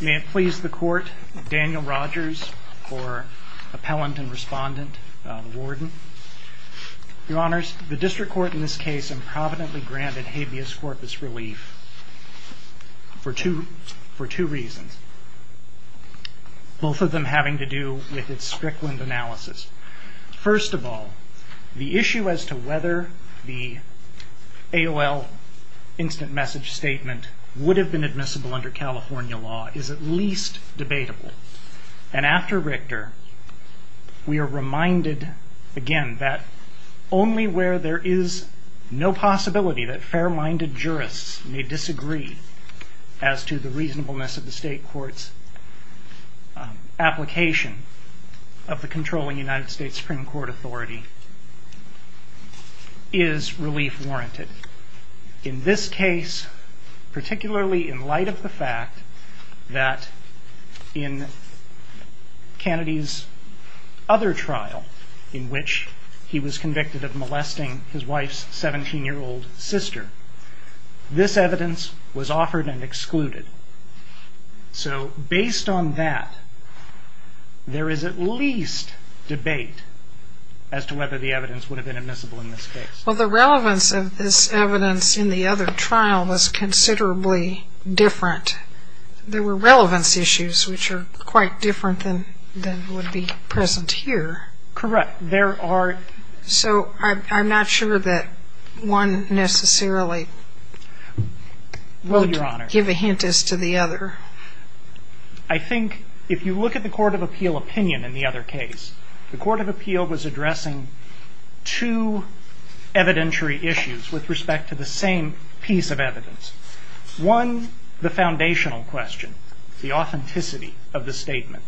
May it please the Court, Daniel Rogers, or Appellant and Respondent, Warden. Your Honors, the District Court in this case improvidently granted habeas corpus relief for two reasons, both of them having to do with its strickland analysis. First of all, the issue as to whether the AOL instant message statement would have been admissible under California law is at least debatable. And after Richter, we are reminded again that only where there is no possibility that fair-minded jurists may disagree as to the reasonableness of the State Court's application of the controlling United States Supreme Court authority is relief warranted. In this case, particularly in light of the fact that in Kennedy's other trial in which he was convicted of molesting his wife's 17-year-old sister, this evidence was offered and excluded. So based on that, there is at least debate as to whether the evidence would have been admissible in this case. Well, the relevance of this evidence in the other trial was considerably different. There were relevance issues which are quite different than would be present here. Correct. So I'm not sure that one necessarily will give a hint as to the other. I think if you look at the Court of Appeal opinion in the other case, the Court of Appeal was addressing two evidentiary issues with respect to the same piece of evidence. One, the foundational question, the authenticity of the statement.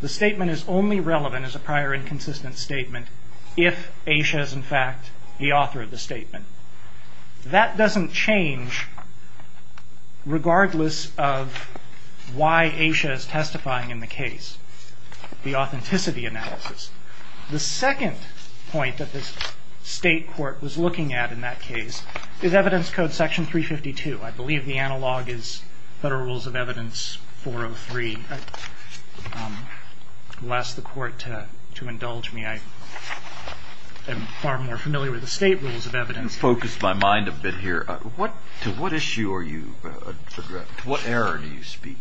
The statement is only relevant as a prior inconsistent statement if Asha is, in fact, the author of the statement. That doesn't change regardless of why Asha is testifying in the case, the authenticity analysis. The second point that the State Court was looking at in that case is Evidence Code Section 352. I believe the analog is Federal Rules of Evidence 403. I'll ask the Court to indulge me. I am far more familiar with the State Rules of Evidence. You've focused my mind a bit here. To what issue are you – to what error do you speak?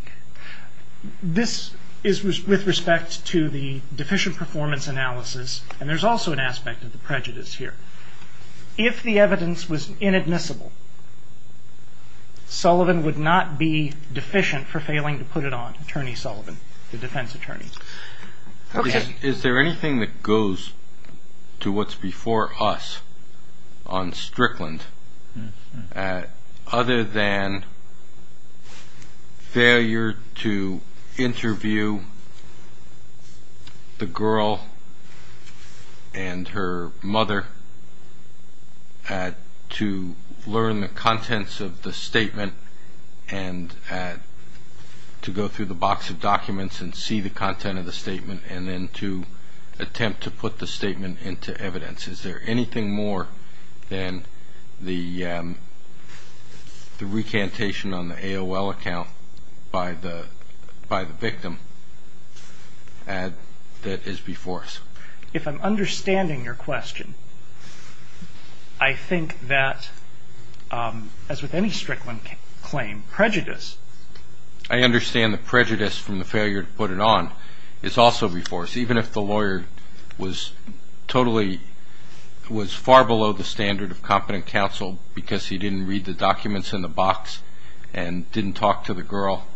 This is with respect to the deficient performance analysis, and there's also an aspect of the prejudice here. If the evidence was inadmissible, Sullivan would not be deficient for failing to put it on Attorney Sullivan, the defense attorney. Is there anything that goes to what's before us on Strickland other than failure to interview the girl and her mother, to learn the contents of the statement and to go through the box of documents and see the content of the statement, and then to attempt to put the statement into evidence? Is there anything more than the recantation on the AOL account by the victim that is before us? If I'm understanding your question, I think that, as with any Strickland claim, prejudice. I understand the prejudice from the failure to put it on. It's also before us, even if the lawyer was totally – was far below the standard of competent counsel because he didn't read the documents in the box and didn't talk to the girl,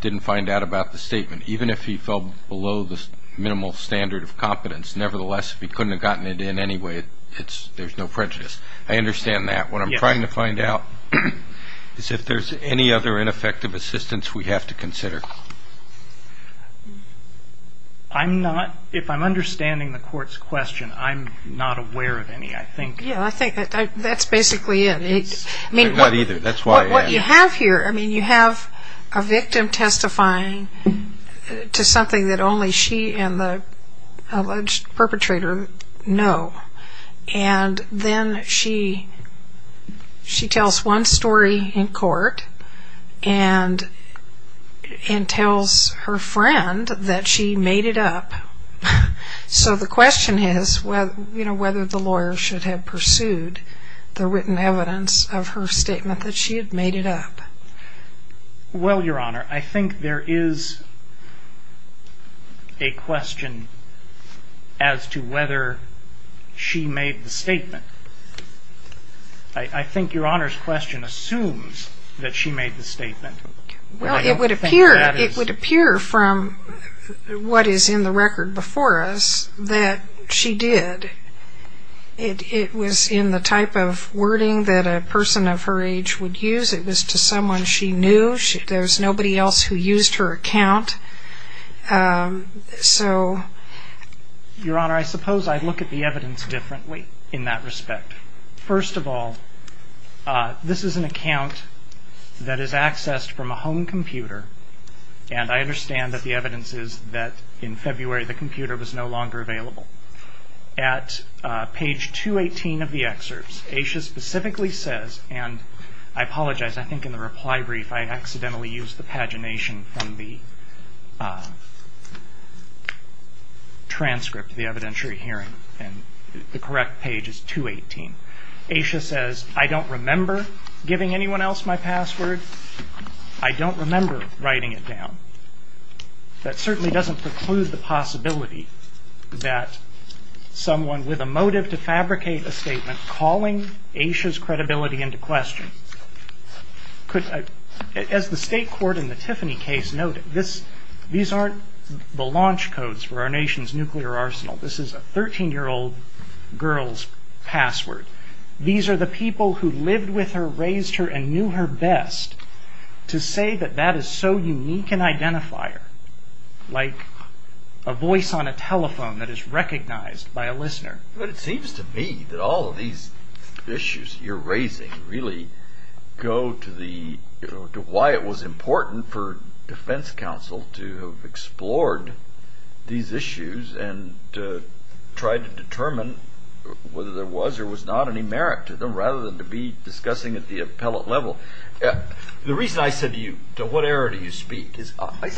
didn't find out about the statement. Even if he fell below the minimal standard of competence, nevertheless, if he couldn't have gotten it in anyway, there's no prejudice. I understand that. What I'm trying to find out is if there's any other ineffective assistance we have to consider. I'm not – if I'm understanding the court's question, I'm not aware of any, I think. Yeah, I think that's basically it. Not either. What you have here, I mean, you have a victim testifying to something that only she and the alleged perpetrator know. And then she tells one story in court and tells her friend that she made it up. So the question is whether the lawyer should have pursued the written evidence of her statement that she had made it up. Well, Your Honor, I think there is a question as to whether she made the statement. I think Your Honor's question assumes that she made the statement. Well, it would appear from what is in the record before us that she did. It was in the type of wording that a person of her age would use. It was to someone she knew. There was nobody else who used her account. So – Your Honor, I suppose I look at the evidence differently in that respect. First of all, this is an account that is accessed from a home computer, and I understand that the evidence is that in February the computer was no longer available. At page 218 of the excerpts, Asha specifically says, and I apologize, I think in the reply brief I accidentally used the pagination from the transcript of the evidentiary hearing, and the correct page is 218. Asha says, I don't remember giving anyone else my password. I don't remember writing it down. That certainly doesn't preclude the possibility that someone with a motive to fabricate a statement calling Asha's credibility into question could – As the state court in the Tiffany case noted, these aren't the launch codes for our nation's nuclear arsenal. This is a 13-year-old girl's password. These are the people who lived with her, raised her, and knew her best, to say that that is so unique an identifier, like a voice on a telephone that is recognized by a listener. But it seems to me that all of these issues you're raising really go to the – to why it was important for defense counsel to have explored these issues and to try to determine whether there was or was not any merit to them, rather than to be discussing at the appellate level. The reason I said to you, to what error do you speak, is I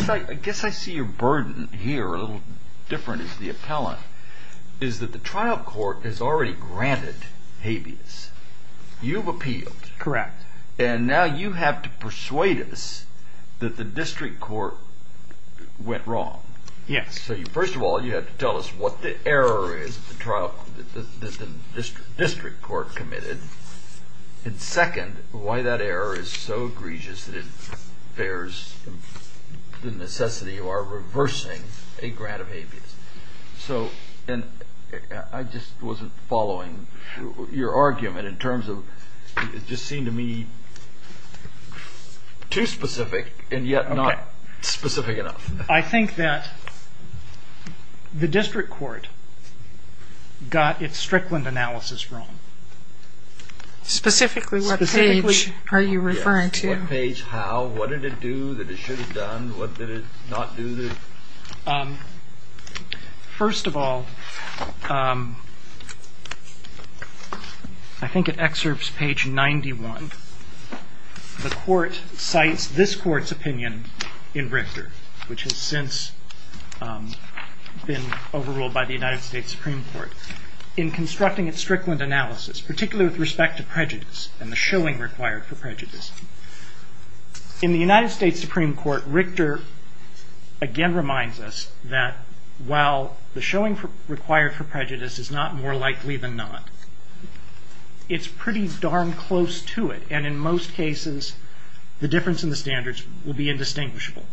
guess I see your burden here a little different as the appellant, is that the trial court has already granted habeas. You've appealed. Correct. And now you have to persuade us that the district court went wrong. Yes. So first of all, you have to tell us what the error is that the district court committed, and second, why that error is so egregious that it bears the necessity of our reversing a grant of habeas. So – and I just wasn't following your argument in terms of – it just seemed to me too specific and yet not specific enough. I think that the district court got its Strickland analysis wrong. Specifically what page are you referring to? Yes, what page how? What did it do that it should have done? What did it not do? First of all, I think it excerpts page 91. The court cites this court's opinion in Richter, which has since been overruled by the United States Supreme Court, in constructing its Strickland analysis, particularly with respect to prejudice and the showing required for prejudice. In the United States Supreme Court, Richter again reminds us that while the showing required for prejudice is not more likely than not, it's pretty darn close to it, and in most cases the difference in the standards will be indistinguishable.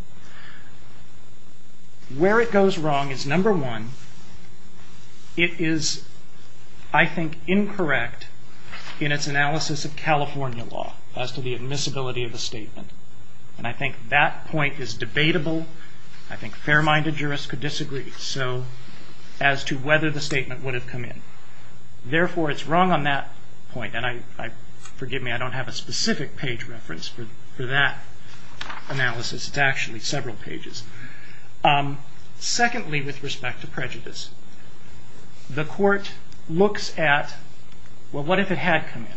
Where it goes wrong is, number one, it is, I think, incorrect in its analysis of California law as to the admissibility of a statement, and I think that point is debatable. I think fair-minded jurists could disagree as to whether the statement would have come in. Therefore, it's wrong on that point, and forgive me, I don't have a specific page reference for that analysis. It's actually several pages. Secondly, with respect to prejudice, the court looks at, well, what if it had come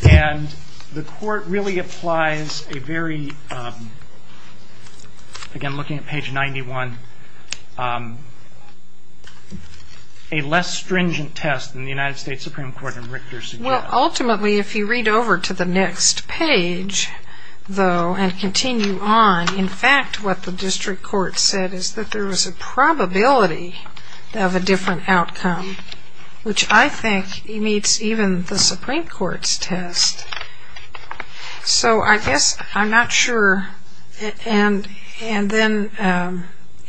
in? And the court really applies a very, again looking at page 91, a less stringent test than the United States Supreme Court in Richter suggests. Well, ultimately, if you read over to the next page, though, and continue on, in fact, what the district court said is that there was a probability of a different outcome, which I think meets even the Supreme Court's test. So I guess I'm not sure, and then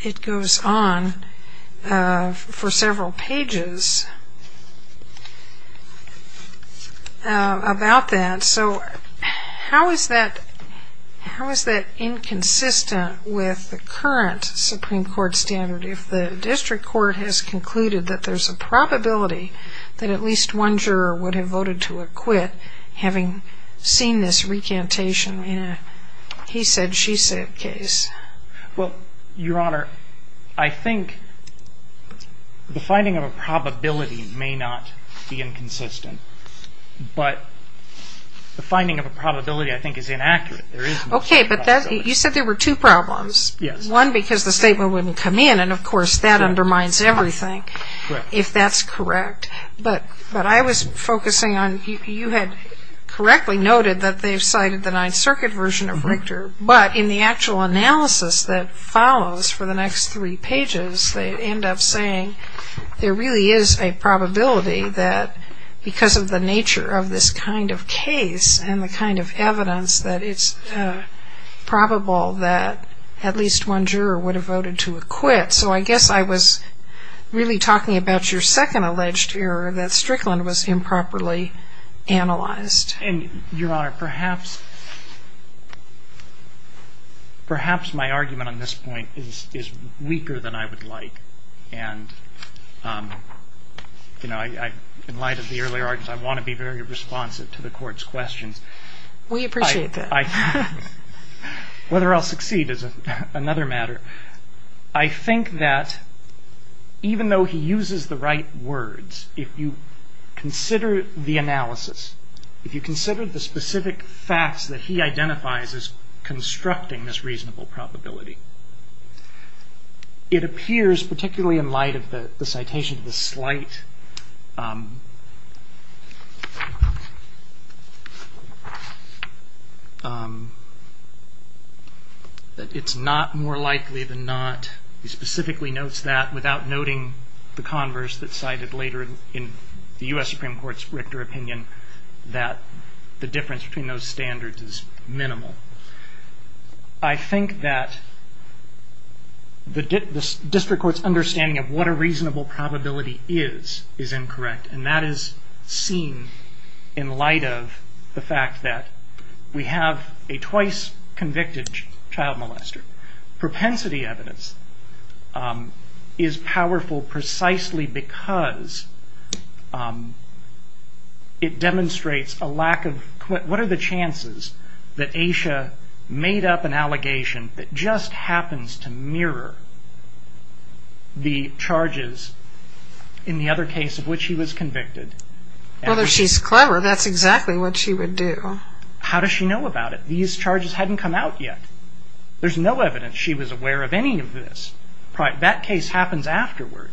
it goes on for several pages about that. So how is that inconsistent with the current Supreme Court standard if the district court has concluded that there's a probability that at least one juror would have voted to acquit having seen this recantation in a he-said-she-said case? Well, Your Honor, I think the finding of a probability may not be inconsistent, but the finding of a probability, I think, is inaccurate. Okay, but you said there were two problems. Yes. One, because the statement wouldn't come in, and of course, that undermines everything. Correct. If that's correct. But I was focusing on you had correctly noted that they've cited the Ninth Circuit version of Richter, but in the actual analysis that follows for the next three pages, they end up saying there really is a probability that because of the nature of this kind of case and the kind of evidence that it's probable that at least one juror would have voted to acquit. So I guess I was really talking about your second alleged error that Strickland was improperly analyzed. And, Your Honor, perhaps my argument on this point is weaker than I would like. And, you know, in light of the earlier arguments, I want to be very responsive to the Court's questions. We appreciate that. Whether I'll succeed is another matter. I think that even though he uses the right words, if you consider the analysis, if you consider the specific facts that he identifies as constructing this reasonable probability, it appears particularly in light of the citation of the slight. It's not more likely than not. He specifically notes that without noting the converse that cited later in the U.S. Supreme Court's Richter opinion, that the difference between those standards is minimal. I think that the district court's understanding of what a reasonable probability is, is incorrect. And that is seen in light of the fact that we have a twice convicted child molester. Propensity evidence is powerful precisely because it demonstrates a lack of, what are the chances that Asha made up an allegation that just happens to mirror the charges in the other case of which she was convicted? Well, if she's clever, that's exactly what she would do. How does she know about it? These charges hadn't come out yet. There's no evidence she was aware of any of this. That case happens afterward,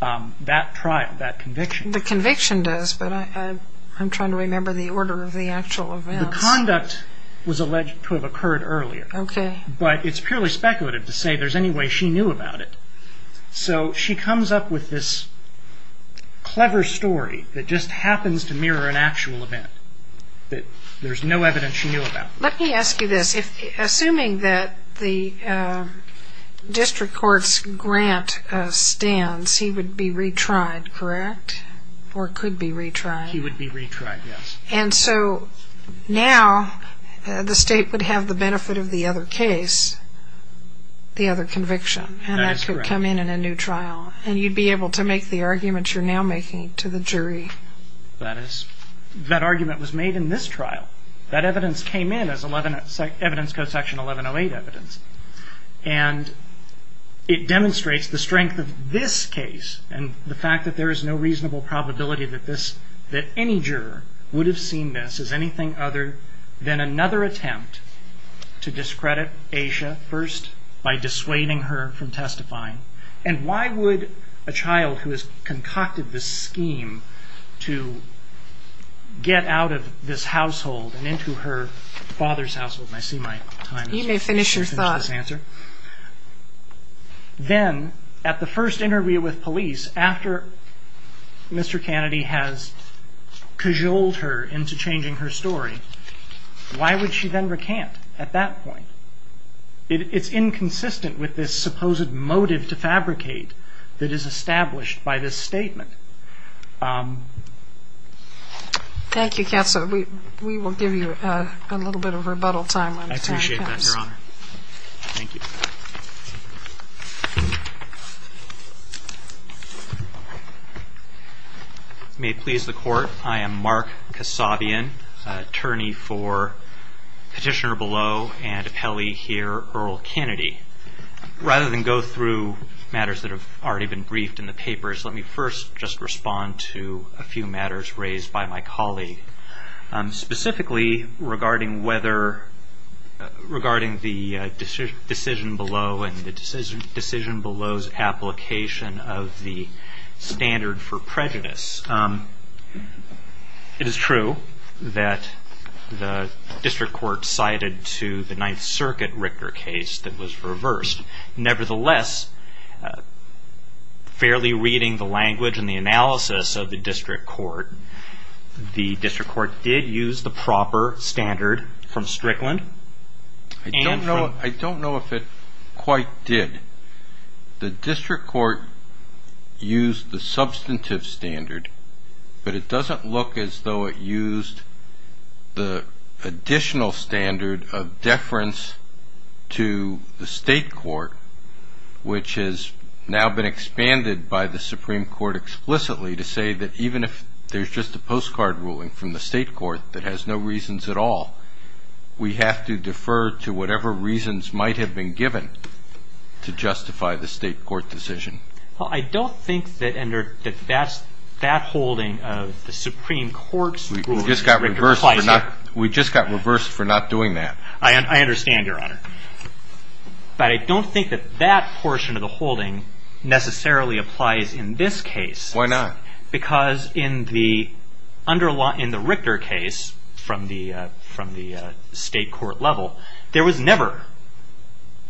that trial, that conviction. The conviction does, but I'm trying to remember the order of the actual events. The conduct was alleged to have occurred earlier. Okay. But it's purely speculative to say there's any way she knew about it. So she comes up with this clever story that just happens to mirror an actual event that there's no evidence she knew about. Let me ask you this. Assuming that the district court's grant stands, he would be retried, correct? Or could be retried? He would be retried, yes. And so now the state would have the benefit of the other case, the other conviction. That is correct. And that could come in in a new trial. And you'd be able to make the argument you're now making to the jury. That is. That argument was made in this trial. That evidence came in as evidence code section 1108 evidence. And it demonstrates the strength of this case and the fact that there is no reasonable probability that any juror would have seen this as anything other than another attempt to discredit Asha first by dissuading her from testifying. And why would a child who has concocted this scheme to get out of this household and into her father's household, and I see my time is up. You may finish your thought. Then at the first interview with police, after Mr. Kennedy has cajoled her into changing her story, why would she then recant at that point? It's inconsistent with this supposed motive to fabricate that is established by this statement. Thank you, counsel. We will give you a little bit of rebuttal time. I appreciate that, Your Honor. Thank you. May it please the court. I am Mark Kasabian, attorney for Petitioner Below and appellee here, Earl Kennedy. Rather than go through matters that have already been briefed in the papers, let me first just respond to a few matters raised by my colleague, specifically regarding the decision below and the decision below's application of the standard for prejudice. It is true that the district court cited to the Ninth Circuit Richter case that was reversed. Nevertheless, fairly reading the language and the analysis of the district court, the district court did use the proper standard from Strickland. I don't know if it quite did. The district court used the substantive standard, but it doesn't look as though it used the additional standard of deference to the state court, which has now been expanded by the Supreme Court explicitly to say that even if there's just a postcard ruling from the state court that has no reasons at all, we have to defer to whatever reasons might have been given to justify the state court decision. Well, I don't think that that holding of the Supreme Court's ruling applies here. We just got reversed for not doing that. I understand, Your Honor. But I don't think that that portion of the holding necessarily applies in this case. Why not? Because in the Richter case from the state court level, there was never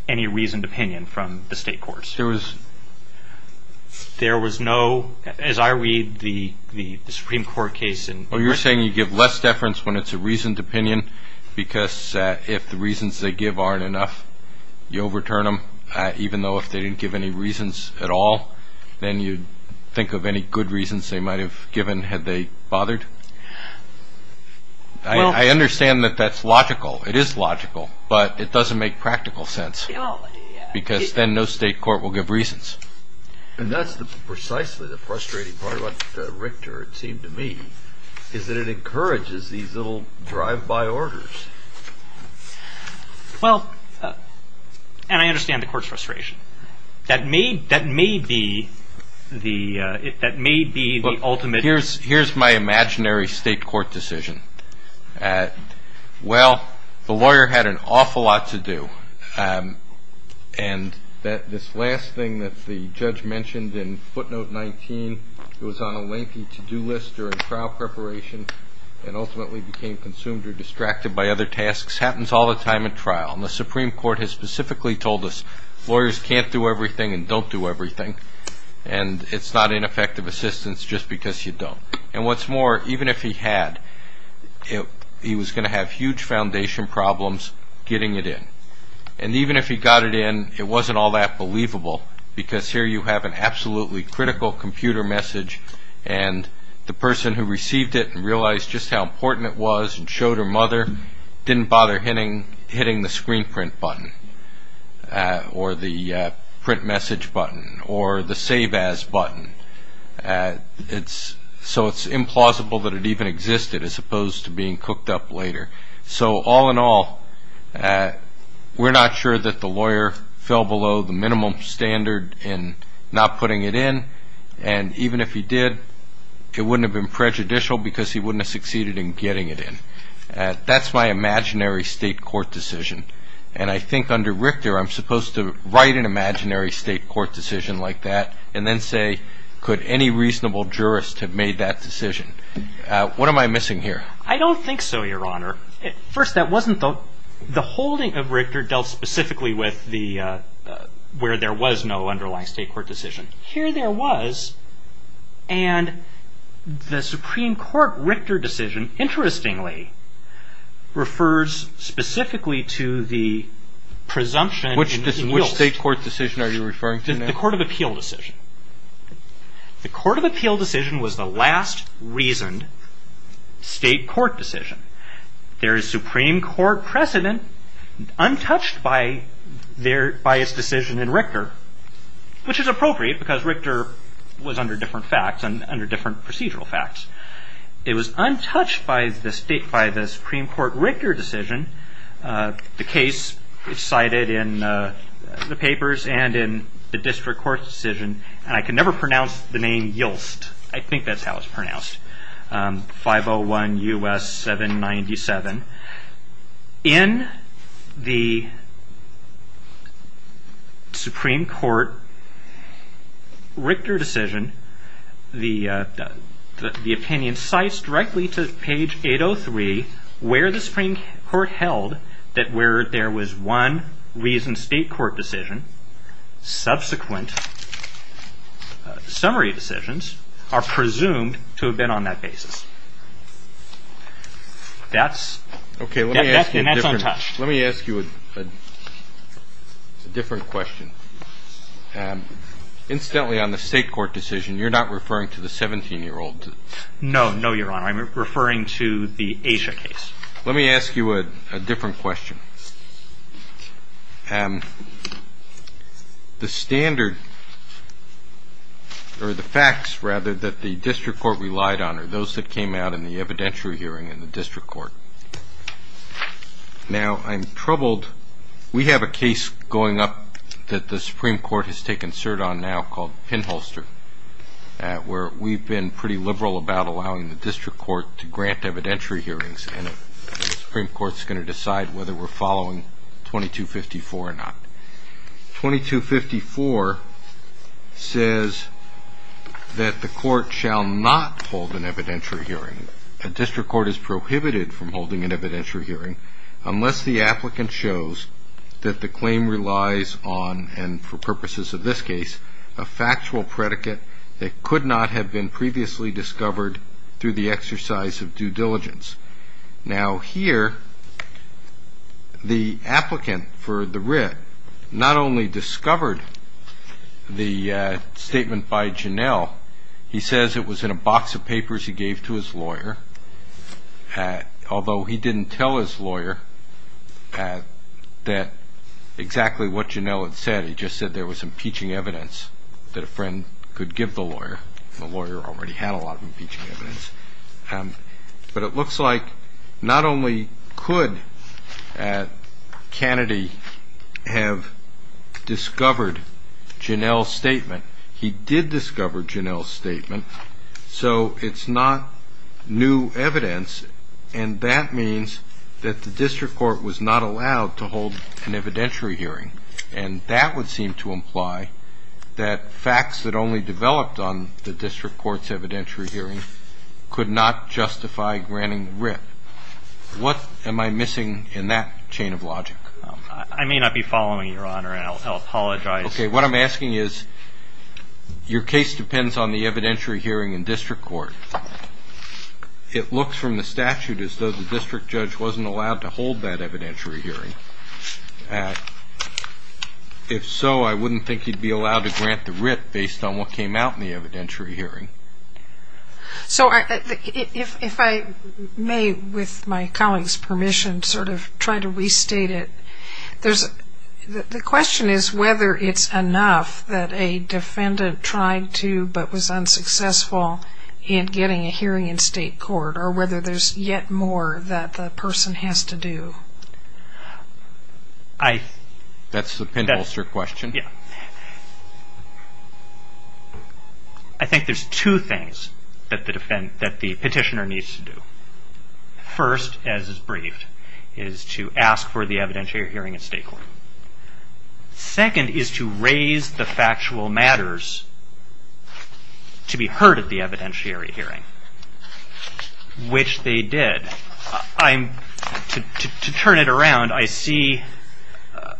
any reasoned opinion from the state courts. There was no, as I read the Supreme Court case. Well, you're saying you give less deference when it's a reasoned opinion because if the reasons they give aren't enough, you overturn them, even though if they didn't give any reasons at all, then you'd think of any good reasons they might have given had they bothered. I understand that that's logical. It is logical, but it doesn't make practical sense. Because then no state court will give reasons. And that's precisely the frustrating part about Richter, it seemed to me, is that it encourages these little drive-by orders. Well, and I understand the court's frustration. That may be the ultimate. Here's my imaginary state court decision. Well, the lawyer had an awful lot to do. And this last thing that the judge mentioned in footnote 19, it was on a lengthy to-do list during trial preparation and ultimately became consumed or distracted by other tasks, happens all the time in trial. And the Supreme Court has specifically told us lawyers can't do everything and don't do everything. And it's not ineffective assistance just because you don't. And what's more, even if he had, he was going to have huge foundation problems getting it in. And even if he got it in, it wasn't all that believable because here you have an absolutely critical computer message and the person who received it and realized just how important it was and showed her mother didn't bother hitting the screen print button or the print message button or the save as button. So it's implausible that it even existed as opposed to being cooked up later. So all in all, we're not sure that the lawyer fell below the minimum standard in not putting it in. And even if he did, it wouldn't have been prejudicial because he wouldn't have succeeded in getting it in. That's my imaginary state court decision. And I think under Richter, I'm supposed to write an imaginary state court decision like that and then say, could any reasonable jurist have made that decision? What am I missing here? I don't think so, Your Honor. First, that wasn't the holding of Richter dealt specifically with the where there was no underlying state court decision. Here there was. And the Supreme Court Richter decision, interestingly, refers specifically to the presumption. Which state court decision are you referring to now? The Court of Appeal decision. The Court of Appeal decision was the last reasoned state court decision. There is Supreme Court precedent untouched by its decision in Richter, which is appropriate because Richter was under different facts and under different procedural facts. It was untouched by the Supreme Court Richter decision. The case is cited in the papers and in the district court decision. And I can never pronounce the name Yulst. I think that's how it's pronounced. 501 U.S. 797. In the Supreme Court Richter decision, the opinion cites directly to page 803 where the Supreme Court held that where there was one reasoned state court decision, subsequent summary decisions are presumed to have been on that basis. That's untouched. Let me ask you a different question. Incidentally, on the state court decision, you're not referring to the 17-year-old. No, no, Your Honor. I'm referring to the Asha case. Let me ask you a different question. The standard or the facts, rather, that the district court relied on are those that came out in the evidentiary hearing in the district court. Now, I'm troubled. We have a case going up that the Supreme Court has taken cert on now called Pinholster where we've been pretty liberal about allowing the district court to grant evidentiary hearings and the Supreme Court is going to decide whether we're following 2254 or not. 2254 says that the court shall not hold an evidentiary hearing. A district court is prohibited from holding an evidentiary hearing unless the applicant shows that the claim relies on, and for purposes of this case, a factual predicate that could not have been previously discovered through the exercise of due diligence. Now, here, the applicant for the writ not only discovered the statement by Janell. He says it was in a box of papers he gave to his lawyer, although he didn't tell his lawyer that exactly what Janell had said. He just said there was impeaching evidence that a friend could give the lawyer. The lawyer already had a lot of impeaching evidence. But it looks like not only could Kennedy have discovered Janell's statement, he did discover Janell's statement, so it's not new evidence, and that means that the district court was not allowed to hold an evidentiary hearing, and that would seem to imply that facts that only developed on the district court's evidentiary hearing could not justify granting the writ. What am I missing in that chain of logic? I may not be following you, Your Honor, and I'll apologize. Okay, what I'm asking is, your case depends on the evidentiary hearing in district court. It looks from the statute as though the district judge wasn't allowed to hold that evidentiary hearing. If so, I wouldn't think he'd be allowed to grant the writ based on what came out in the evidentiary hearing. So if I may, with my colleague's permission, sort of try to restate it, the question is whether it's enough that a defendant tried to, but was unsuccessful in getting a hearing in state court, or whether there's yet more that the person has to do. That's the pinholster question. I think there's two things that the petitioner needs to do. First, as is briefed, is to ask for the evidentiary hearing in state court. Second is to raise the factual matters to be heard at the evidentiary hearing, which they did. To turn it around, I see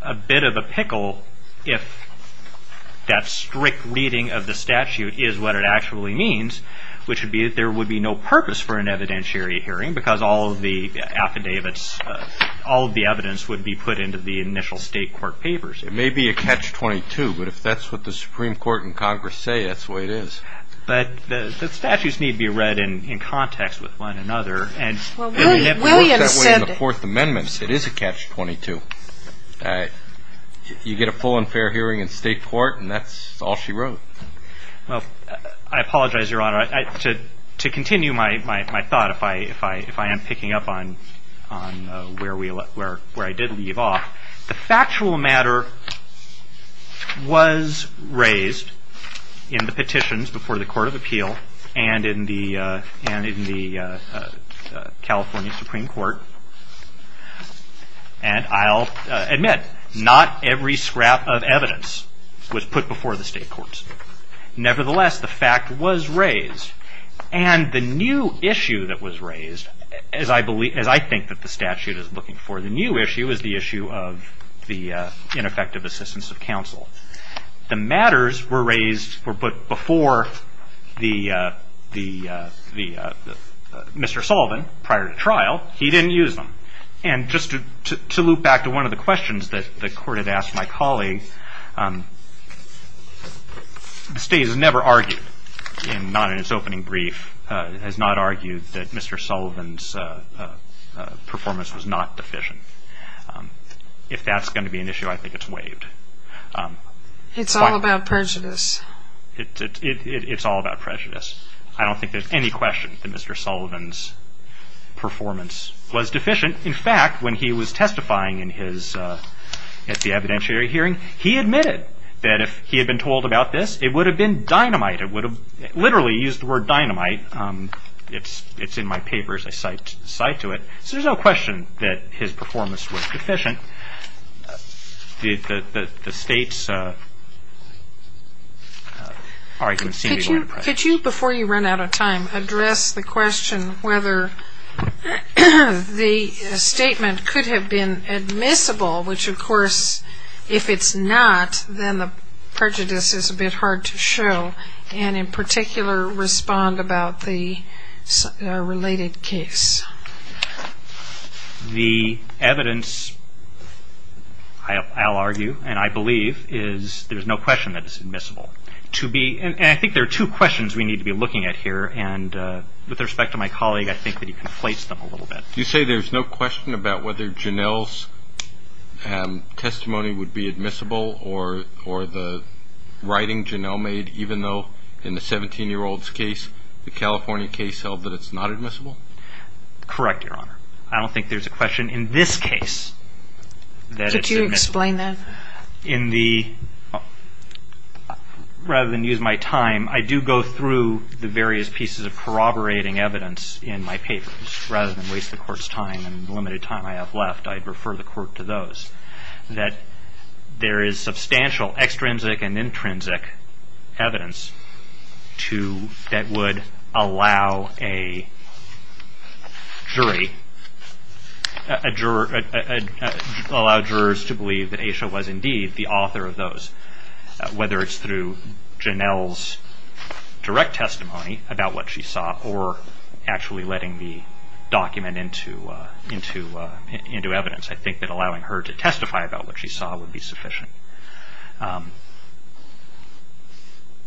a bit of a pickle if that strict reading of the statute is what it actually means, which would be that there would be no purpose for an evidentiary hearing, because all of the affidavits, all of the evidence would be put into the initial state court papers. It may be a catch-22, but if that's what the Supreme Court and Congress say, that's the way it is. But the statutes need to be read in context with one another. And if we work that way in the Fourth Amendment, it is a catch-22. You get a full and fair hearing in state court, and that's all she wrote. Well, I apologize, Your Honor. To continue my thought, if I am picking up on where I did leave off, the factual matter was raised in the petitions before the Court of Appeal and in the California Supreme Court. And I'll admit, not every scrap of evidence was put before the state courts. Nevertheless, the fact was raised. And the new issue that was raised, as I think that the statute is looking for, the new issue is the issue of the ineffective assistance of counsel. The matters were raised before Mr. Sullivan, prior to trial. He didn't use them. And just to loop back to one of the questions that the Court had asked my colleague, the state has never argued, not in its opening brief, has not argued that Mr. Sullivan's performance was not deficient. If that's going to be an issue, I think it's waived. It's all about prejudice. It's all about prejudice. I don't think there's any question that Mr. Sullivan's performance was deficient. In fact, when he was testifying at the evidentiary hearing, he admitted that if he had been told about this, it would have been dynamite. It would have literally used the word dynamite. It's in my papers. I cite to it. So there's no question that his performance was deficient. The state's argument seems to be going to prejudice. Could you, before you run out of time, address the question whether the statement could have been admissible, which of course if it's not, then the prejudice is a bit hard to show, and in particular respond about the related case. The evidence, I'll argue, and I believe, is there's no question that it's admissible. And I think there are two questions we need to be looking at here, and with respect to my colleague, I think that he conflates them a little bit. You say there's no question about whether Janell's testimony would be admissible or the writing Janell made, even though in the 17-year-old's case, the California case held that it's not admissible? Correct, Your Honor. I don't think there's a question in this case that it's admissible. Could you explain that? In the ñ rather than use my time, I do go through the various pieces of corroborating evidence in my papers. Rather than waste the Court's time and the limited time I have left, I'd refer the Court to those. That there is substantial extrinsic and intrinsic evidence that would allow a jury, allow jurors to believe that Asha was indeed the author of those, whether it's through Janell's direct testimony about what she saw or actually letting the document into evidence. I think that allowing her to testify about what she saw would be sufficient.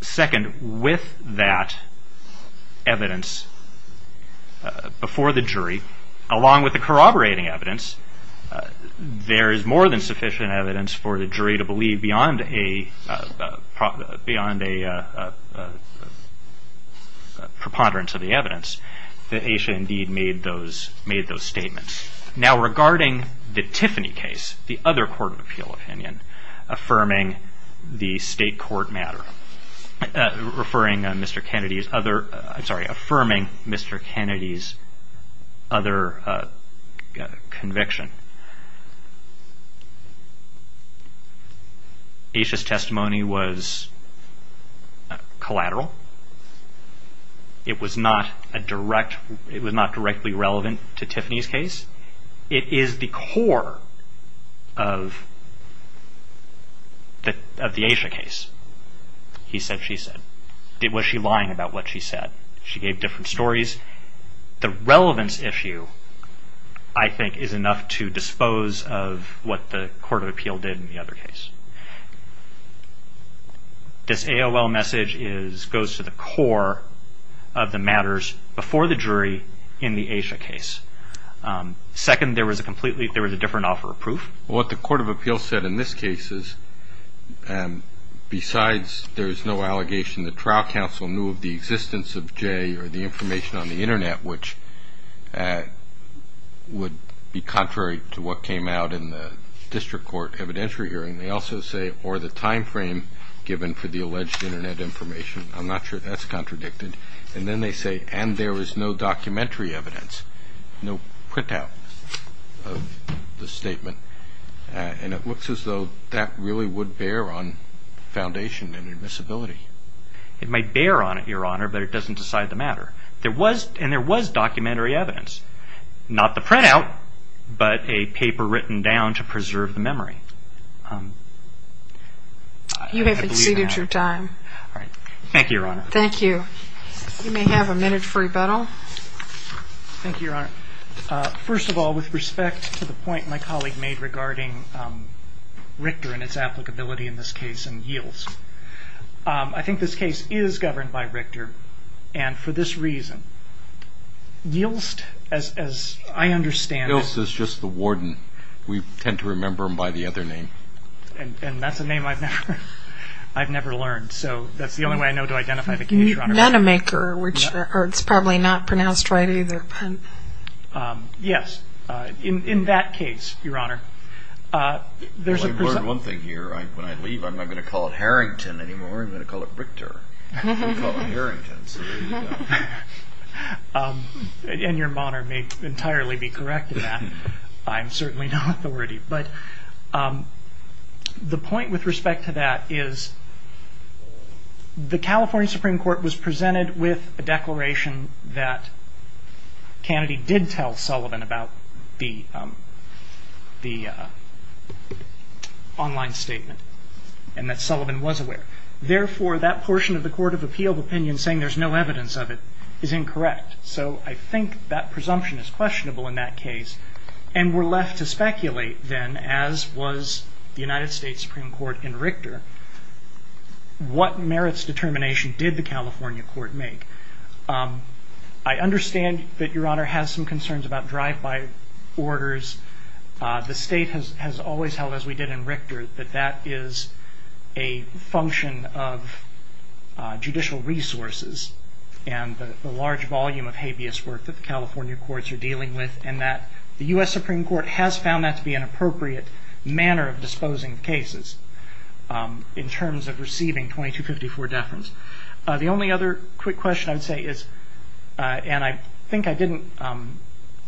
Second, with that evidence before the jury, along with the corroborating evidence, there is more than sufficient evidence for the jury to believe that Asha indeed made those statements. Now regarding the Tiffany case, the other Court of Appeal opinion, affirming the State Court matter, referring to Mr. Kennedy's other, I'm sorry, affirming Mr. Kennedy's other conviction, Asha's testimony was collateral. It was not directly relevant to Tiffany's case. It is the core of the Asha case. He said, she said. Was she lying about what she said? She gave different stories. The relevance issue, I think, is enough to dispose of what the Court of Appeal did in the other case. This AOL message is, goes to the core of the matters before the jury in the Asha case. Second, there was a completely, there was a different offer of proof. What the Court of Appeal said in this case is, besides there is no allegation that trial counsel knew of the existence of Jay or the information on the internet, which would be contrary to what came out in the District Court evidentiary hearing, they also say, or the timeframe given for the alleged internet information. I'm not sure that's contradicted. And then they say, and there is no documentary evidence, no printout of the statement. And it looks as though that really would bear on foundation and admissibility. It might bear on it, Your Honor, but it doesn't decide the matter. There was, and there was documentary evidence. Not the printout, but a paper written down to preserve the memory. You have exceeded your time. All right. Thank you, Your Honor. Thank you. You may have a minute for rebuttal. Thank you, Your Honor. First of all, with respect to the point my colleague made regarding Richter and its applicability in this case and Yilts, I think this case is governed by Richter. And for this reason, Yilts, as I understand it. Yilts is just the warden. We tend to remember him by the other name. And that's a name I've never learned. So that's the only way I know to identify the case, Your Honor. Manamaker, which is probably not pronounced right either. Yes. In that case, Your Honor. I've learned one thing here. When I leave, I'm not going to call it Harrington anymore. I'm going to call it Richter. I'm going to call it Harrington. So there you go. And Your Honor may entirely be correct in that. I'm certainly not authority. But the point with respect to that is the California Supreme Court was presented with a declaration that Kennedy did tell Sullivan about the online statement and that Sullivan was aware. Therefore, that portion of the Court of Appeal opinion saying there's no evidence of it is incorrect. So I think that presumption is questionable in that case. And we're left to speculate then, as was the United States Supreme Court in Richter, what merits determination did the California court make? I understand that Your Honor has some concerns about drive-by orders. The state has always held, as we did in Richter, that that is a function of judicial resources. And the large volume of habeas work that the California courts are dealing with and that the U.S. Supreme Court has found that to be an appropriate manner of disposing of cases in terms of receiving 2254 deference. The only other quick question I would say is, and I think I didn't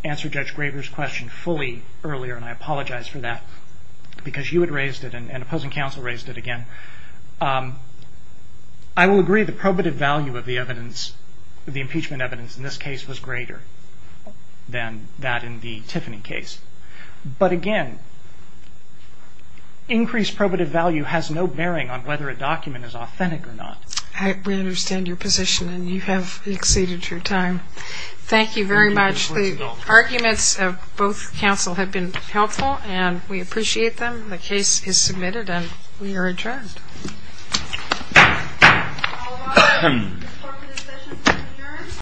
answer Judge Graber's question fully earlier, and I apologize for that because you had raised it and opposing counsel raised it again. I will agree the probative value of the impeachment evidence in this case was greater than that in the Tiffany case. But again, increased probative value has no bearing on whether a document is authentic or not. We understand your position, and you have exceeded your time. Thank you very much. The arguments of both counsel have been helpful, and we appreciate them. The case is submitted, and we are adjourned.